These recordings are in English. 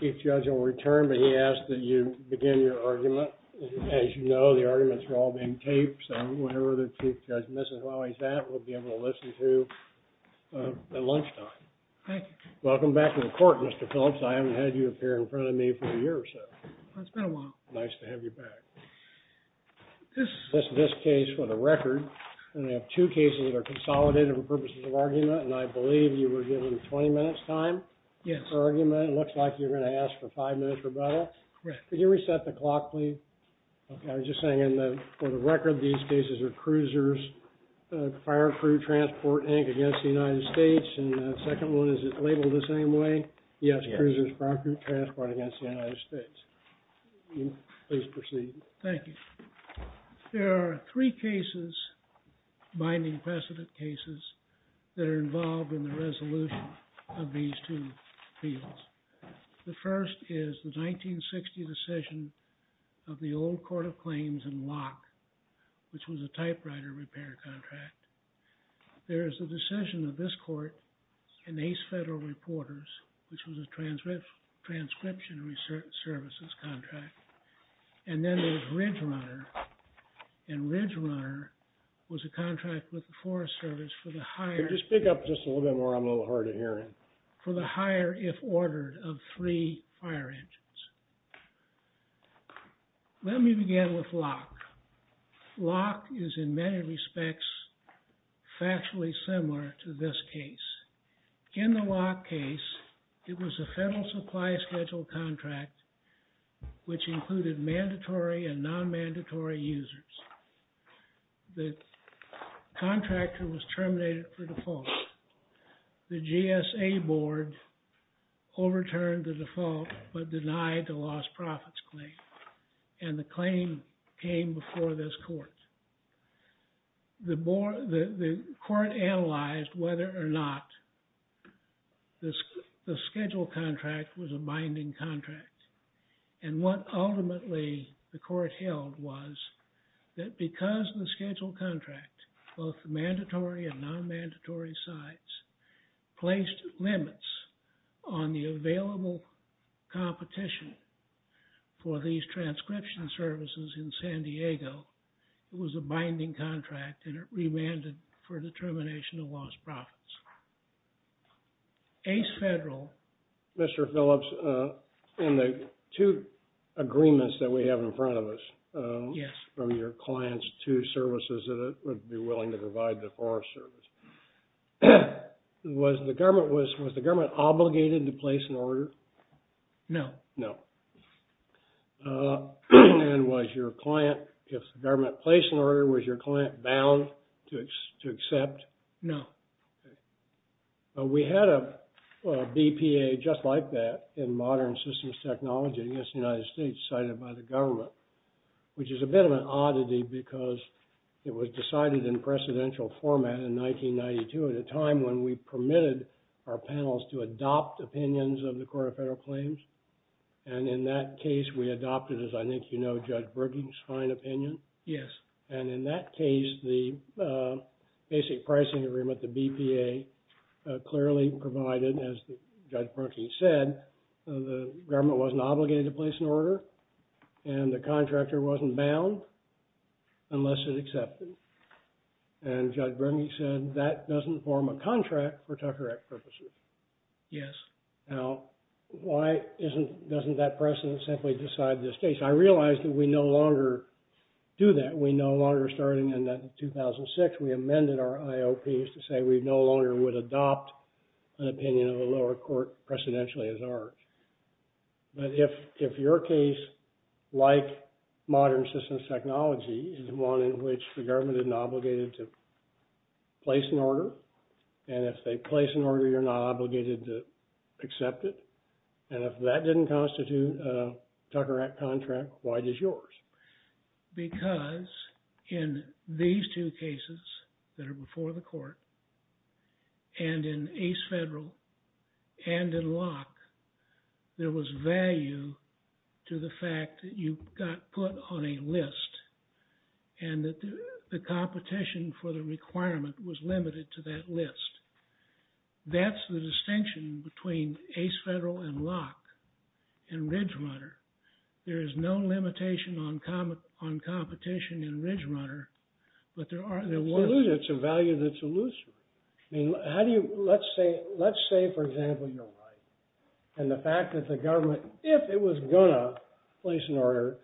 JUDGE, CHUCK P. MILLER, U.S. D.C. Chief Judge will return. But he asks that you begin your argument. As you know, the arguments are all being taped. So whenever the Chief Judge misses while he's at, we'll be able to listen to at lunchtime. Welcome back to the Court, Mr. Phillips. I haven't had you appear in front of me for a year or so. It's been a while. Nice to have you back. This case, for the record, and I have two cases that are consolidated for purposes of I believe you were given 20 minutes' time for argument. It looks like you're going to ask for five minutes' rebuttal. Correct. Could you reset the clock, please? I was just saying, for the record, these cases are Cruiser's Fire Crew Transport Inc. against the United States. And the second one, is it labeled the same way? Yes. Cruiser's Fire Crew Transport Inc. against the United States. Please proceed. Thank you. There are three cases, binding precedent cases, that are involved in the resolution of these two appeals. The first is the 1960 decision of the old Court of Claims in Locke, which was a typewriter repair contract. There is a decision of this Court in Ace Federal Reporters, which was a transcription services contract. And then there's Ridge Runner, and Ridge Runner was a contract with the Forest Service for the higher... Could you speak up just a little bit more? I'm a little hard of hearing. For the higher, if ordered, of three fire engines. Let me begin with Locke. Locke is, in many respects, factually similar to this case. In the Locke case, it was a federal supply schedule contract, which included mandatory and non-mandatory users. The contractor was terminated for default. The GSA board overturned the default, but denied the lost profits claim. And the claim came before this court. The court analyzed whether or not the schedule contract was a binding contract. And what ultimately the court held was that because the schedule contract, both mandatory and non-mandatory sites, placed limits on the available competition for these transcription services in San Diego, it was a binding contract, and it remanded for the termination of lost profits. Ace Federal... Mr. Phillips, in the two agreements that we have in front of us, from your clients to services that would be willing to provide the Forest Service, was the government obligated to place an order? No. No. And was your client, if the government placed an order, was your client bound to accept? No. Okay. We had a BPA just like that in modern systems technology against the United States cited by the government, which is a bit of an oddity because it was decided in precedential format in 1992 at a time when we permitted our panels to adopt opinions of the Court of Federal and in that case we adopted, as I think you know, Judge Brookings' fine opinion. Yes. And in that case, the basic pricing agreement, the BPA, clearly provided, as Judge Brookings said, the government wasn't obligated to place an order and the contractor wasn't bound unless it accepted. And Judge Brookings said, that doesn't form a contract for Tucker Act purposes. Yes. Now, why doesn't that precedent simply decide this case? I realize that we no longer do that. We no longer, starting in 2006, we amended our IOPs to say we no longer would adopt an opinion of the lower court precedentially as ours. But if your case, like modern systems technology, is one in which the government isn't obligated to place an order, and if they place an order you're not obligated to accept it, and if that didn't constitute a Tucker Act contract, why does yours? Because in these two cases that are before the court and in Ace Federal and in Locke, there was value to the fact that you got put on a list and that the competition for the requirement was limited to that list. That's the distinction between Ace Federal and Locke in Ridge Runner. There is no limitation on competition in Ridge Runner, but there was. It's a value that's elusive. Let's say, for example, you're right, and the fact that the government, if it was going to place an order,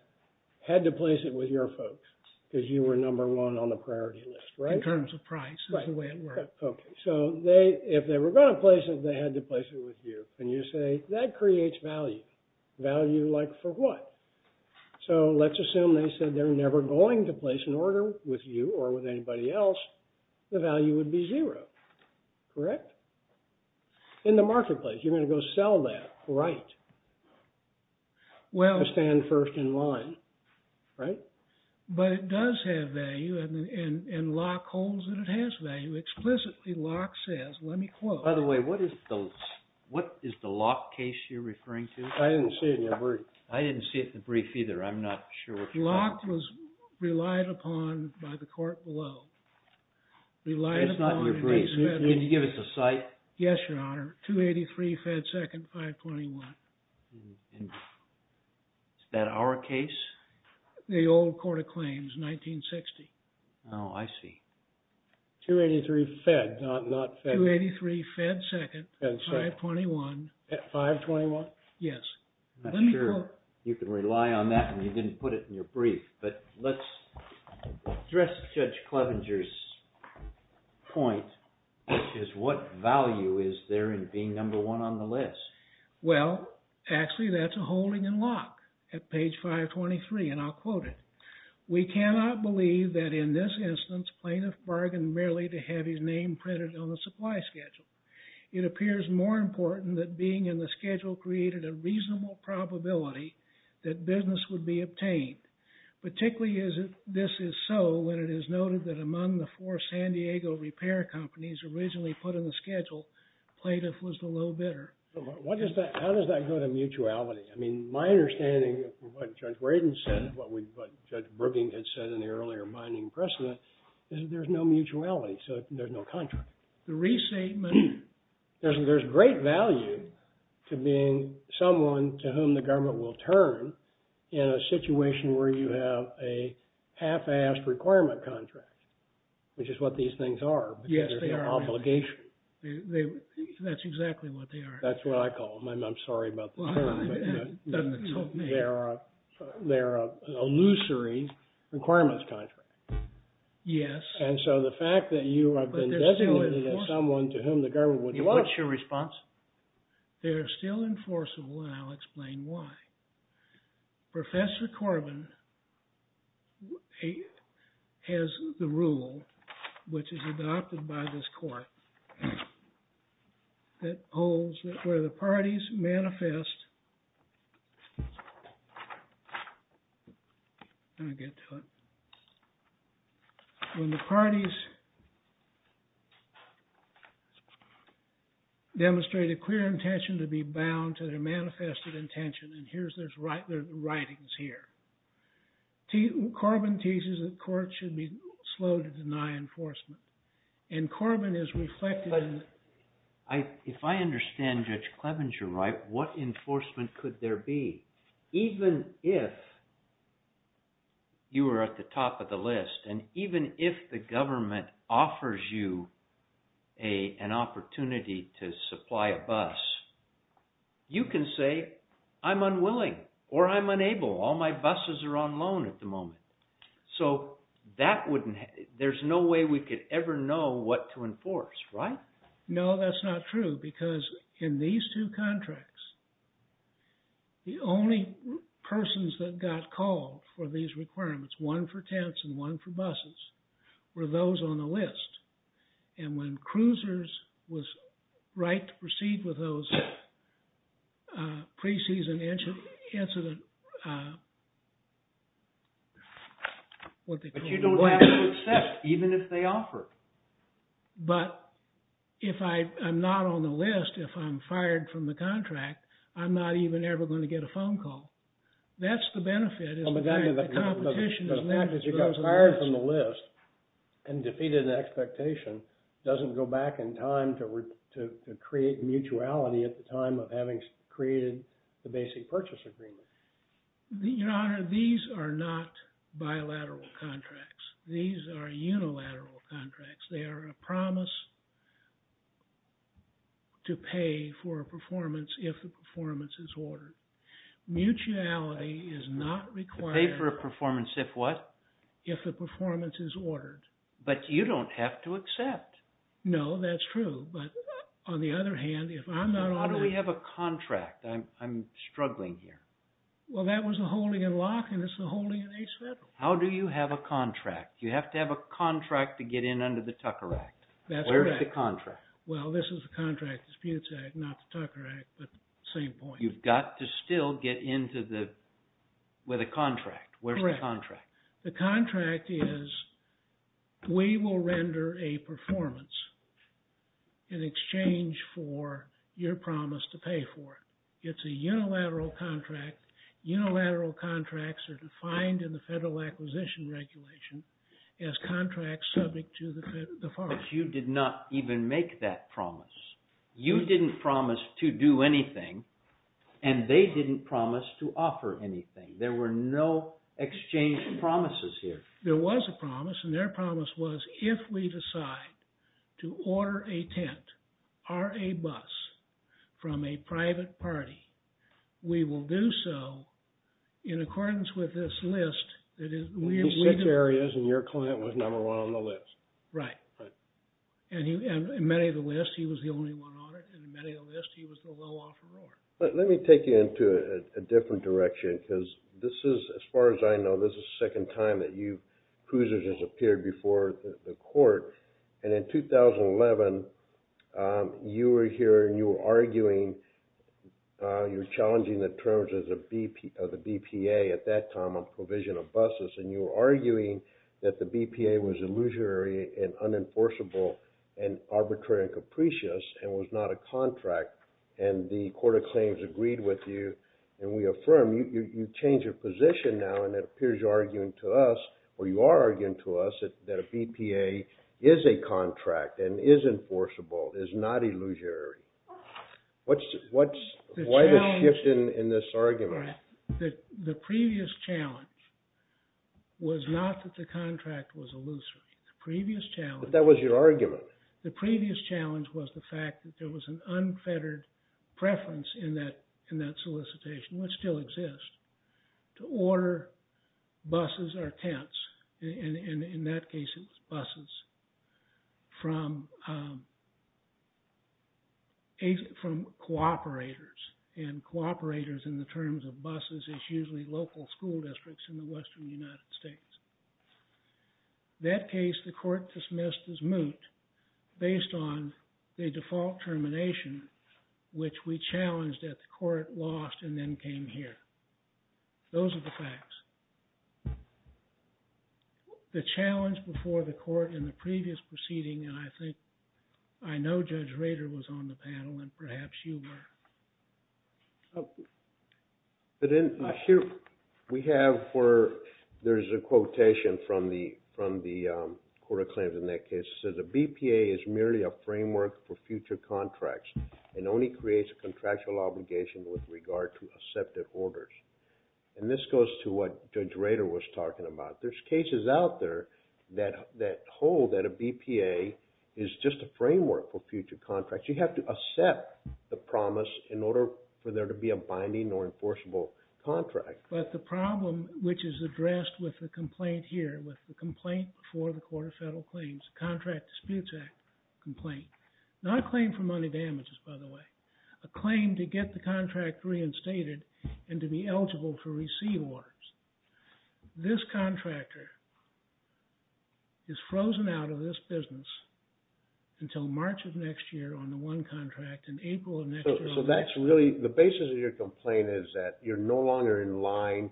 had to place it with your folks, because you were number one on the priority list, right? In terms of price. That's the way it worked. OK. So if they were going to place it, they had to place it with you. And you say, that creates value. Value like for what? So let's assume they said they're never going to place an order with you or with anybody else, the value would be zero, correct? In the marketplace, you're going to go sell that, right? Well. To stand first in line, right? But it does have value, and Locke holds that it has value. Explicitly, Locke says, let me quote. By the way, what is the Locke case you're referring to? I didn't see it in the brief. I didn't see it in the brief either. I'm not sure if you have. Locke was relied upon by the court below. It's not in your brief. Can you give us a cite? Yes, Your Honor. 283 Fed 2nd, 521. Is that our case? The old court of claims, 1960. Oh, I see. 283 Fed, not Fed. 283 Fed 2nd, 521. 521? Yes. Let me quote. You can rely on that, and you didn't put it in your brief. But let's address Judge Clevenger's point, which is what value is there in being number one on the list? Well, actually, that's a holding in Locke at page 523, and I'll quote it. We cannot believe that in this instance, plaintiff bargained merely to have his name printed on the supply schedule. It appears more important that being in the schedule created a reasonable probability that business would be obtained. Particularly, this is so when it is noted that among the four San Diego repair companies originally put in the schedule, plaintiff was the low bidder. How does that go to mutuality? I mean, my understanding of what Judge Braden said, what Judge Brookings had said in the earlier binding precedent, is that there's no mutuality. So there's no contract. The re-statement. There's great value to being someone to whom the government will turn in a situation where you have a half-assed requirement contract, which is what these things are. Yes, they are. Obligation. That's exactly what they are. That's what I call them. I'm sorry about the term, but they're an illusory requirements contract. Yes. And so the fact that you have been designated as someone to whom the government would want to. What's your response? They are still enforceable, and I'll explain why. Professor Corbin has the rule, which is adopted by this court, that holds that where the parties parties demonstrate a clear intention to be bound to their manifested intention. And there's writings here. Corbin teases that courts should be slow to deny enforcement. And Corbin is reflecting. If I understand Judge Clevenger right, what enforcement could there be? Even if you were at the top of the list, and even if the government offers you an opportunity to supply a bus, you can say, I'm unwilling, or I'm unable. All my buses are on loan at the moment. So there's no way we could ever know what to enforce, right? No, that's not true, because in these two contracts, the only persons that got called for these requirements, one for tents and one for buses, were those on the list. And when cruisers was right to proceed with those preseason incident, what they could do. But you don't have to accept, even if they offer it. But if I am not on the list, if I'm fired from the contract, I'm not even ever going to get a phone call. That's the benefit. But the fact that you got fired from the list and defeated an expectation doesn't go back in time to create mutuality at the time of having created the basic purchase agreement. Your Honor, these are not bilateral contracts. These are unilateral contracts. They are a promise to pay for a performance if the performance is ordered. Mutuality is not required. To pay for a performance if what? If the performance is ordered. But you don't have to accept. No, that's true. But on the other hand, if I'm not on the list. How do we have a contract? I'm struggling here. Well, that was the holding in Locke, and it's the holding in Ace Federal. How do you have a contract? You have to have a contract to get in under the Tucker Act. That's correct. Where's the contract? Well, this is the contract. It's the Penance Act, not the Tucker Act, but same point. You've got to still get in with a contract. Where's the contract? The contract is we will render a performance in exchange for your promise to pay for it. It's a unilateral contract. Unilateral contracts are defined in the Federal Acquisition Regulation as contracts subject to the FARC. But you did not even make that promise. You didn't promise to do anything, and they didn't promise to offer anything. There were no exchange promises here. There was a promise, and their promise was, if we decide to order a tent or a bus from a private party, we will do so in accordance with this list. Six areas, and your client was number one on the list. Right. And in many of the lists, he was the only one on it, and in many of the lists, he was the low-offer order. Let me take you into a different direction, because this is, as far as I know, this is the second time that cruisers have appeared before the court. And in 2011, you were here, and you were arguing. You were challenging the terms of the BPA at that time on provision of buses, and you were arguing that the BPA was illusory and unenforceable and arbitrary and capricious and was not a contract. And the court of claims agreed with you, and we affirm. You've changed your position now, and it appears you're arguing to us, or you are arguing to us, that a BPA is a contract and is enforceable, is not illusory. Why the shift in this argument? The previous challenge was not that the contract was illusory. But that was your argument. The previous challenge was the fact that there was an unfettered preference in that solicitation, which still exists, to order buses or tents, and in that case, it was buses, from cooperators, and cooperators in the terms of buses is usually local school districts in the western United States. That case, the court dismissed as moot based on the default termination, which we challenged at the court, lost, and then came here. Those are the facts. The challenge before the court in the previous proceeding, and I think, I know Judge Rader was on the panel, and perhaps you were. But in here, we have, there's a quotation from the court of claims in that case. It says, a BPA is merely a framework for future contracts and only creates a contractual obligation with regard to accepted orders. And this goes to what Judge Rader was talking about. There's cases out there that hold that a BPA is just a framework for future contracts. You have to accept the promise in order for there to be a binding or enforceable contract. But the problem, which is addressed with the complaint here, with the complaint before the court of federal claims, the Contract Disputes Act complaint, not a claim for money damages, by the way, a claim to get the contract reinstated and to be eligible to receive orders. This contractor is frozen out of this business until March of next year on the one contract, and April of next year on the other. So that's really, the basis of your complaint is that you're no longer in line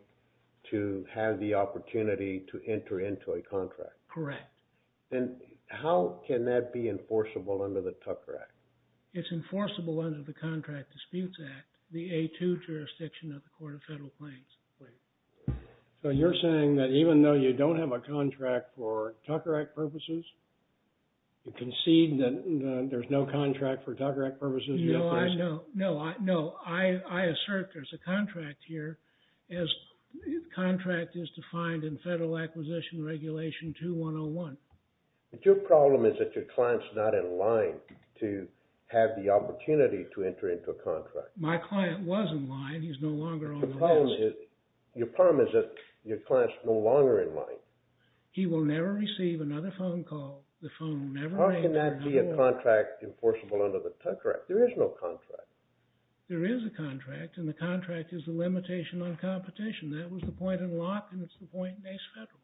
to have the opportunity to enter into a contract. Correct. And how can that be enforceable under the Tucker Act? It's enforceable under the Contract Disputes Act, the A2 jurisdiction of the court of federal claims. So you're saying that even though you don't have a contract for Tucker Act purposes, you concede that there's no contract for Tucker Act purposes yet? No. No. I assert there's a contract here, as contract is defined in Federal Acquisition Regulation 2101. But your problem is that your client's not in line to have the opportunity to enter into a contract. My client was in line. He's no longer on the list. Your problem is that your client's no longer in line. He will never receive another phone call. The phone will never ring. How can that be a contract enforceable under the Tucker Act? There is no contract. There is a contract, and the contract is the limitation on competition. That was the point in Locke, and it's the point in Ace Federal.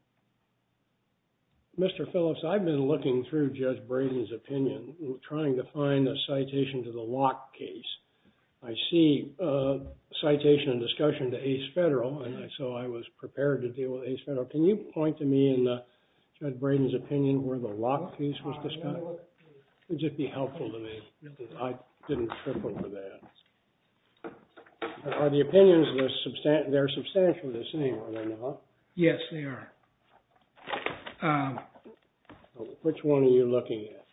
Mr. Phillips, I've been looking through Judge Braden's opinion, trying to find a citation to the Locke case. I see a citation and discussion to Ace Federal, and so I was prepared to deal with Ace Federal. Can you point to me in Judge Braden's opinion where the Locke case was discussed? Would you be helpful to me? I didn't trip over that. Are the opinions, they're substantial to the same, are they not? Yes, they are. Which one are you looking at?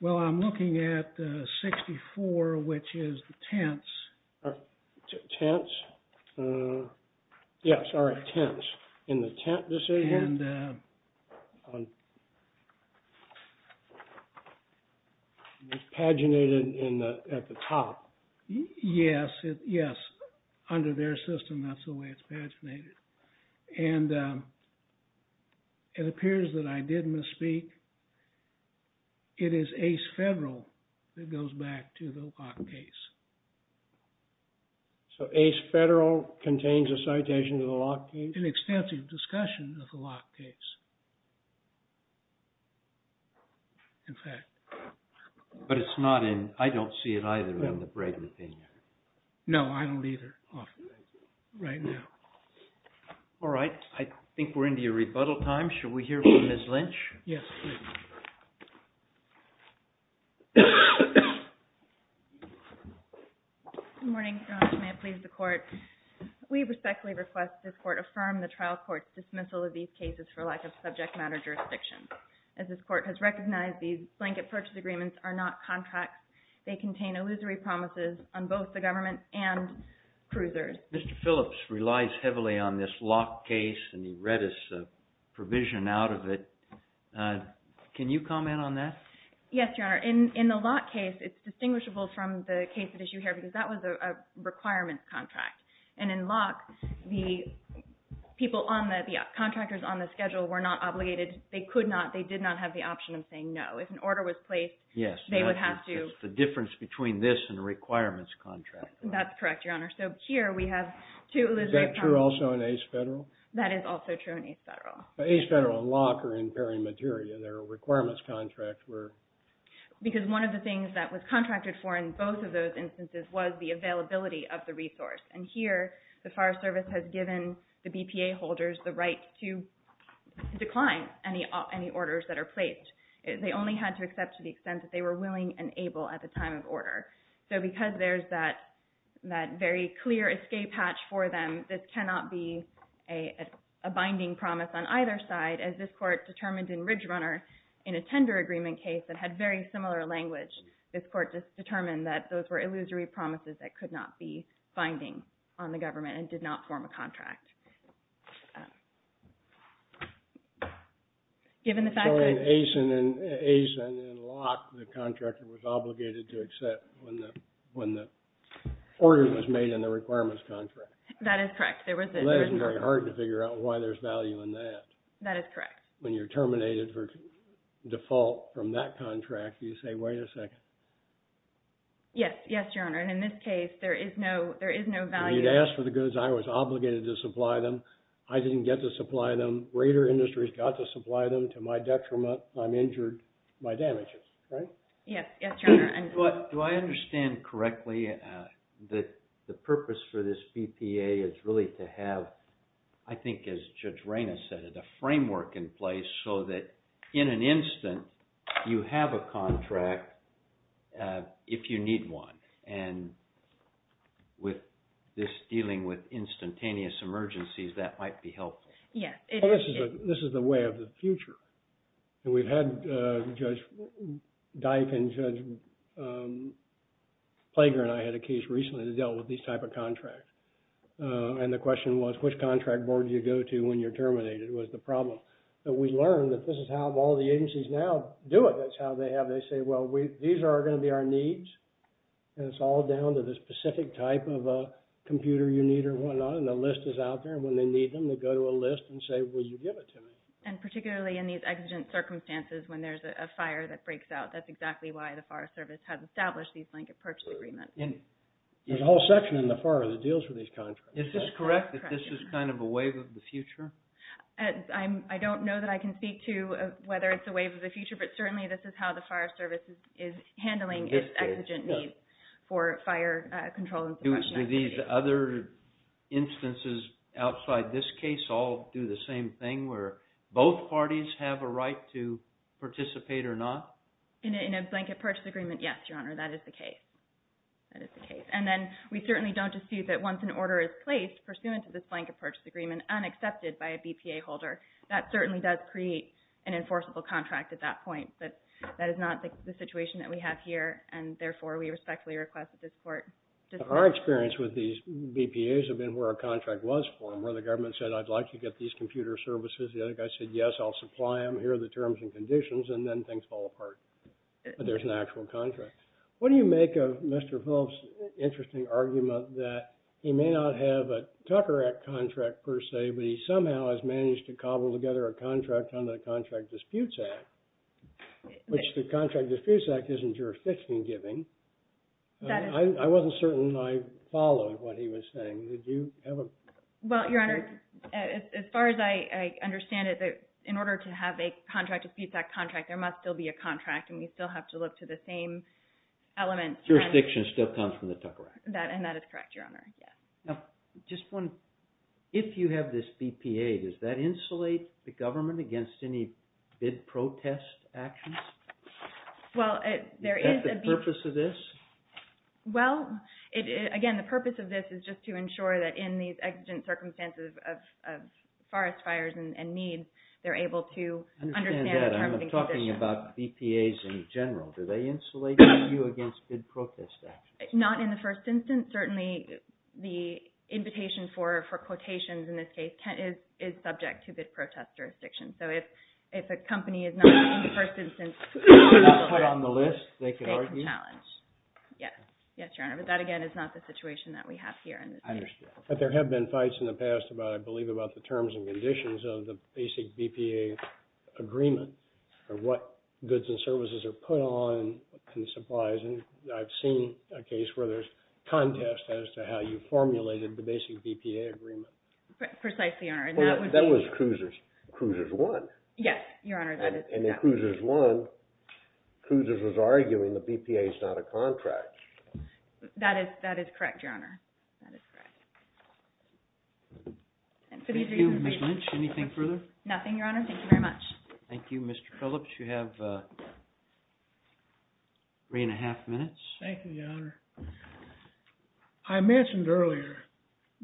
Well, I'm looking at 64, which is the tents. Tents? Yes, all right, tents. In the tent decision? Paginated at the top. Yes. Yes. Under their system, that's the way it's paginated. And it appears that I did misspeak. It is Ace Federal that goes back to the Locke case. So Ace Federal contains a citation to the Locke case? An extensive discussion of the Locke case, in fact. But it's not in, I don't see it either in the Braden opinion. No, I don't either. Right now. All right, I think we're into your rebuttal time. Should we hear from Ms. Lynch? Yes, please. Good morning, Your Honor. May it please the Court. We respectfully request this Court affirm the trial court's dismissal of these cases for lack of subject matter jurisdiction. As this Court has recognized, these blanket purchase agreements are not contracts. They contain illusory promises on both the government and cruisers. Mr. Phillips relies heavily on this Locke case, and he read us a provision out of it. Can you comment on that? Yes, Your Honor. In the Locke case, it's distinguishable from the case at issue here, because that was a requirements contract. And in Locke, the contractors on the schedule were not obligated, they could not, they did not have the option of saying no. If an order was placed, they would have to. Yes, that's the difference between this and a requirements contract. That's correct, Your Honor. So here we have two illusory promises. Is that true also in Ace Federal? That is also true in Ace Federal. But Ace Federal and Locke are impairing material. Their requirements contracts were. Because one of the things that was contracted for in both of those instances was the availability of the resource. And here, the Fire Service has given the BPA holders the right to decline any orders that are placed. They only had to accept to the extent that they were willing and able at the time of order. So because there's that very clear escape hatch for them, this cannot be a binding promise on either side, as this Court determined in Ridge Runner in a tender agreement case that had very similar language. This Court just determined that those were illusory promises that could not be binding on the government and did not form a contract. Given the fact that. So in Ace and in Locke, the contractor was obligated to accept when the order was made in the requirements contract. That is correct. It wasn't very hard to figure out why there's value in that. That is correct. When you're terminated for default from that contract, you say, wait a second. Yes. Yes, Your Honor. And in this case, there is no value. When you'd ask for the goods, I was obligated to supply them. I didn't get to supply them. Raider Industries got to supply them. To my detriment, I'm injured. My damage is. Right? Yes. Yes, Your Honor. Do I understand correctly that the purpose for this BPA is really to have, I think as Judge Rayna said, a framework in place so that in an instant, you have a contract if you need one. And with this dealing with instantaneous emergencies, that might be helpful. Yes. This is the way of the future. And we've had Judge Dyke and Judge Plager and I had a case recently that dealt with these type of contracts. And the question was, which contract board do you go to when you're terminated was the problem. But we learned that this is how all the agencies now do it. That's how they have, they say, well, these are going to be our needs. And it's all down to the specific type of computer you need or whatnot. And the list is out there. And when they need them, they go to a list and say, will you give it to me? And particularly in these exigent circumstances, when there's a fire that breaks out, that's exactly why the fire service has established these blanket purchase agreements. There's a whole section in the fire that deals with these contracts. Is this correct that this is kind of a wave of the future? I don't know that I can speak to whether it's a wave of the future, but certainly this is how the fire service is handling its exigent needs for fire control and suppression. Do these other instances outside this case all do the same thing, where both parties have a right to participate or not? In a blanket purchase agreement, yes, Your Honor. That is the case. That is the case. And then we certainly don't dispute that once an order is placed pursuant to this blanket purchase agreement, unaccepted by a BPA holder, that certainly does create an enforceable contract at that point. But that is not the situation that we have here, and therefore we respectfully request that this court dismiss it. Our experience with these BPAs have been where a contract was formed, where the government said, I'd like to get these computer services. The other guy said, yes, I'll supply them. Here are the terms and conditions, and then things fall apart. But there's an actual contract. What do you make of Mr. Phelps' interesting argument that he may not have a Tucker Act contract per se, but he somehow has managed to cobble together a contract under the Contract Disputes Act, which the Contract Disputes Act isn't jurisdiction giving. I wasn't certain I followed what he was saying. Did you have a? Well, Your Honor, as far as I understand it, in order to have a Contract Disputes Act contract, there must still be a contract, and we still have to look to the same element. Jurisdiction still comes from the Tucker Act. And that is correct, Your Honor. If you have this BPA, does that insulate the government against any bid protest actions? Is that the purpose of this? Well, again, the purpose of this is just to ensure that in these exigent circumstances of forest fires and needs, they're able to understand the terms and conditions. I'm talking about BPAs in general. Do they insulate you against bid protest actions? Not in the first instance. Certainly, the invitation for quotations in this case is subject to bid protest jurisdiction. So if a company is not in the first instance, they're not put on the list, they can argue. They can challenge. Yes, Your Honor. But that, again, is not the situation that we have here. I understand. But there have been fights in the past, I believe, about the terms and conditions of the basic BPA agreement or what goods and services are put on and supplies. And I've seen a case where there's contest as to how you formulated the basic BPA agreement. Precisely, Your Honor. That was Cruiser's. Cruiser's won. Yes, Your Honor, that is correct. And then Cruiser's won. Cruiser's was arguing the BPA is not a contract. That is correct, Your Honor. That is correct. Thank you. Ms. Lynch, anything further? Nothing, Your Honor. Thank you very much. Thank you. Mr. Phillips, you have three and a half minutes. Thank you, Your Honor. I mentioned earlier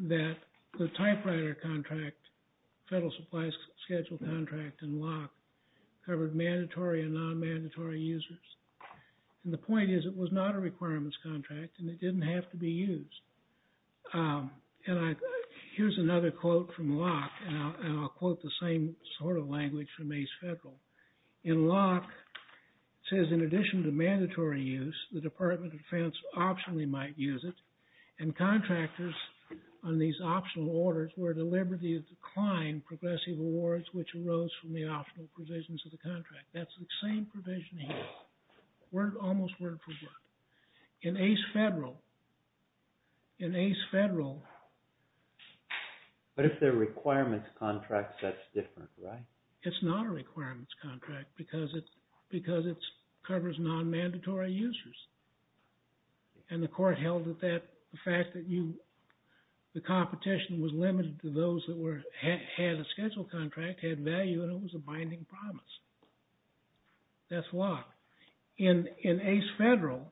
that the typewriter contract, Federal Supply Schedule contract, and LOC covered mandatory and non-mandatory users. And the point is it was not a requirements contract and it didn't have to be used. And here's another quote from LOC, and I'll quote the same sort of language from ACE Federal. In LOC, it says, in addition to mandatory use, the Department of Defense optionally might use it. And contractors on these optional orders were at a liberty of decline progressive awards which arose from the optional provisions of the contract. That's the same provision here. Almost word for word. In ACE Federal, in ACE Federal. But if they're requirements contracts, that's different, right? It's not a requirements contract because it's covers non-mandatory users. And the court held that the fact that the competition was limited to those that had a schedule contract, had value, and it was a binding promise. That's LOC. In ACE Federal,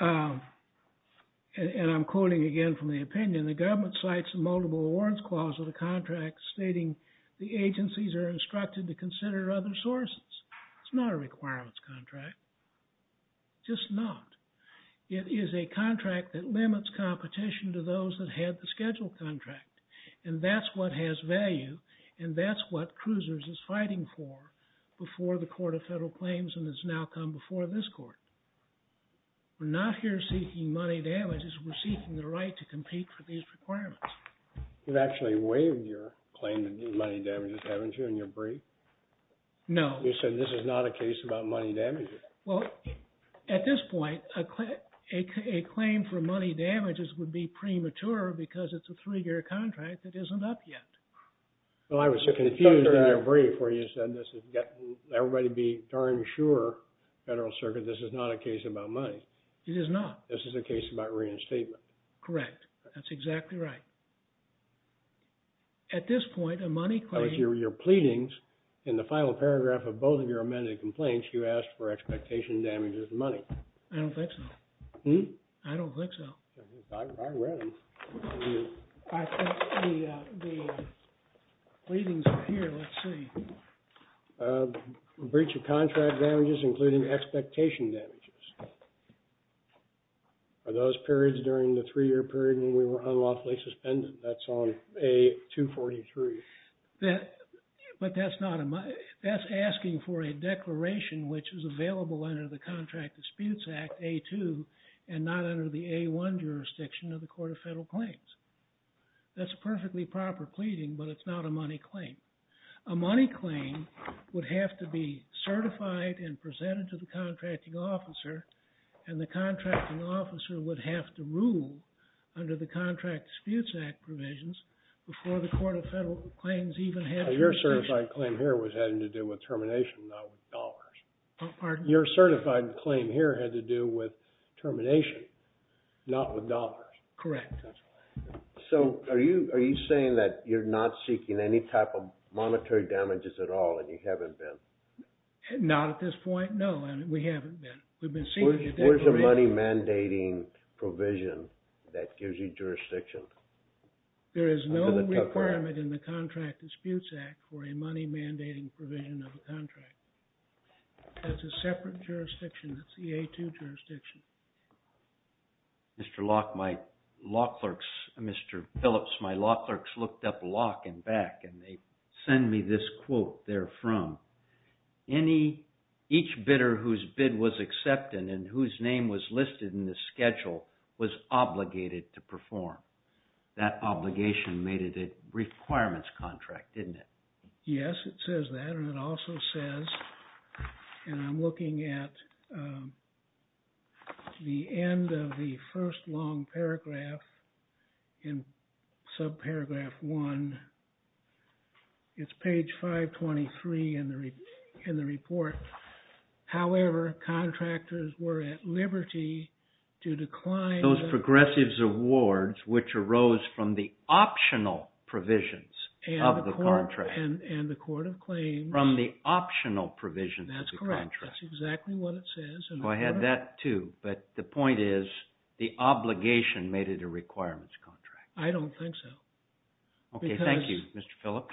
and I'm quoting again from the opinion, the government cites the multiple awards clause of the contract stating the agencies are instructed to consider other sources. It's not a requirements contract. Just not. It is a contract that limits competition to those that had the schedule contract. And that's what has value, and that's what Cruisers is fighting for before the Court of Federal Claims and has now come before this court. We're not here seeking money damages. We're seeking the right to compete for these requirements. You've actually waived your claim to money damages, haven't you, in your brief? No. You said this is not a case about money damages. Well, at this point, a claim for money damages would be premature because it's a three-year contract that isn't up yet. Well, I was so confused in your brief where you said this is getting everybody to be darn sure, Federal Circuit, this is not a case about money. It is not. This is a case about reinstatement. Correct. That's exactly right. At this point, a money claim. That was your pleadings. In the final paragraph of both of your amended complaints, you asked for expectation damages of money. I don't think so. Hm? I don't think so. I read them. I think the pleadings are here. Let's see. A breach of contract damages, including expectation damages. Are those periods during the three-year period when we were unlawfully suspended? That's on A-243. But that's asking for a declaration which is available under the Contract Disputes Act, A-2, and not under the A-1 jurisdiction of the Court of Federal Claims. That's a perfectly proper pleading, but it's not a money claim. A money claim would have to be certified and presented to the contracting officer, and the contracting officer would have to rule under the Contract Disputes Act provisions before the Court of Federal Claims even had permission. Your certified claim here was having to do with termination, not with dollars. Pardon? Your certified claim here had to do with termination, not with dollars. Correct. So are you saying that you're not seeking any type of monetary damages at all and you haven't been? Not at this point, no. And we haven't been. We've been seeking a declaration. Where's the money mandating provision that gives you jurisdiction? There is no requirement in the Contract Disputes Act for a money mandating provision of a contract. That's a separate jurisdiction. That's the A2 jurisdiction. Mr. Locke, my law clerks, Mr. Phillips, my law clerks looked up Locke and Beck, and they send me this quote there from. Each bidder whose bid was accepted and whose name was listed in the schedule was obligated to perform. That obligation made it a requirements contract, didn't it? Yes, it says that, and it also says, and I'm looking at the end of the first long paragraph in subparagraph one. It's page 523 in the report. However, contractors were at liberty to decline. Those progressives awards which arose from the optional provisions of the contract. And the court of claims. From the optional provisions of the contract. That's correct. That's exactly what it says. I had that too, but the point is, the obligation made it a requirements contract. I don't think so. Okay, thank you, Mr. Phillips.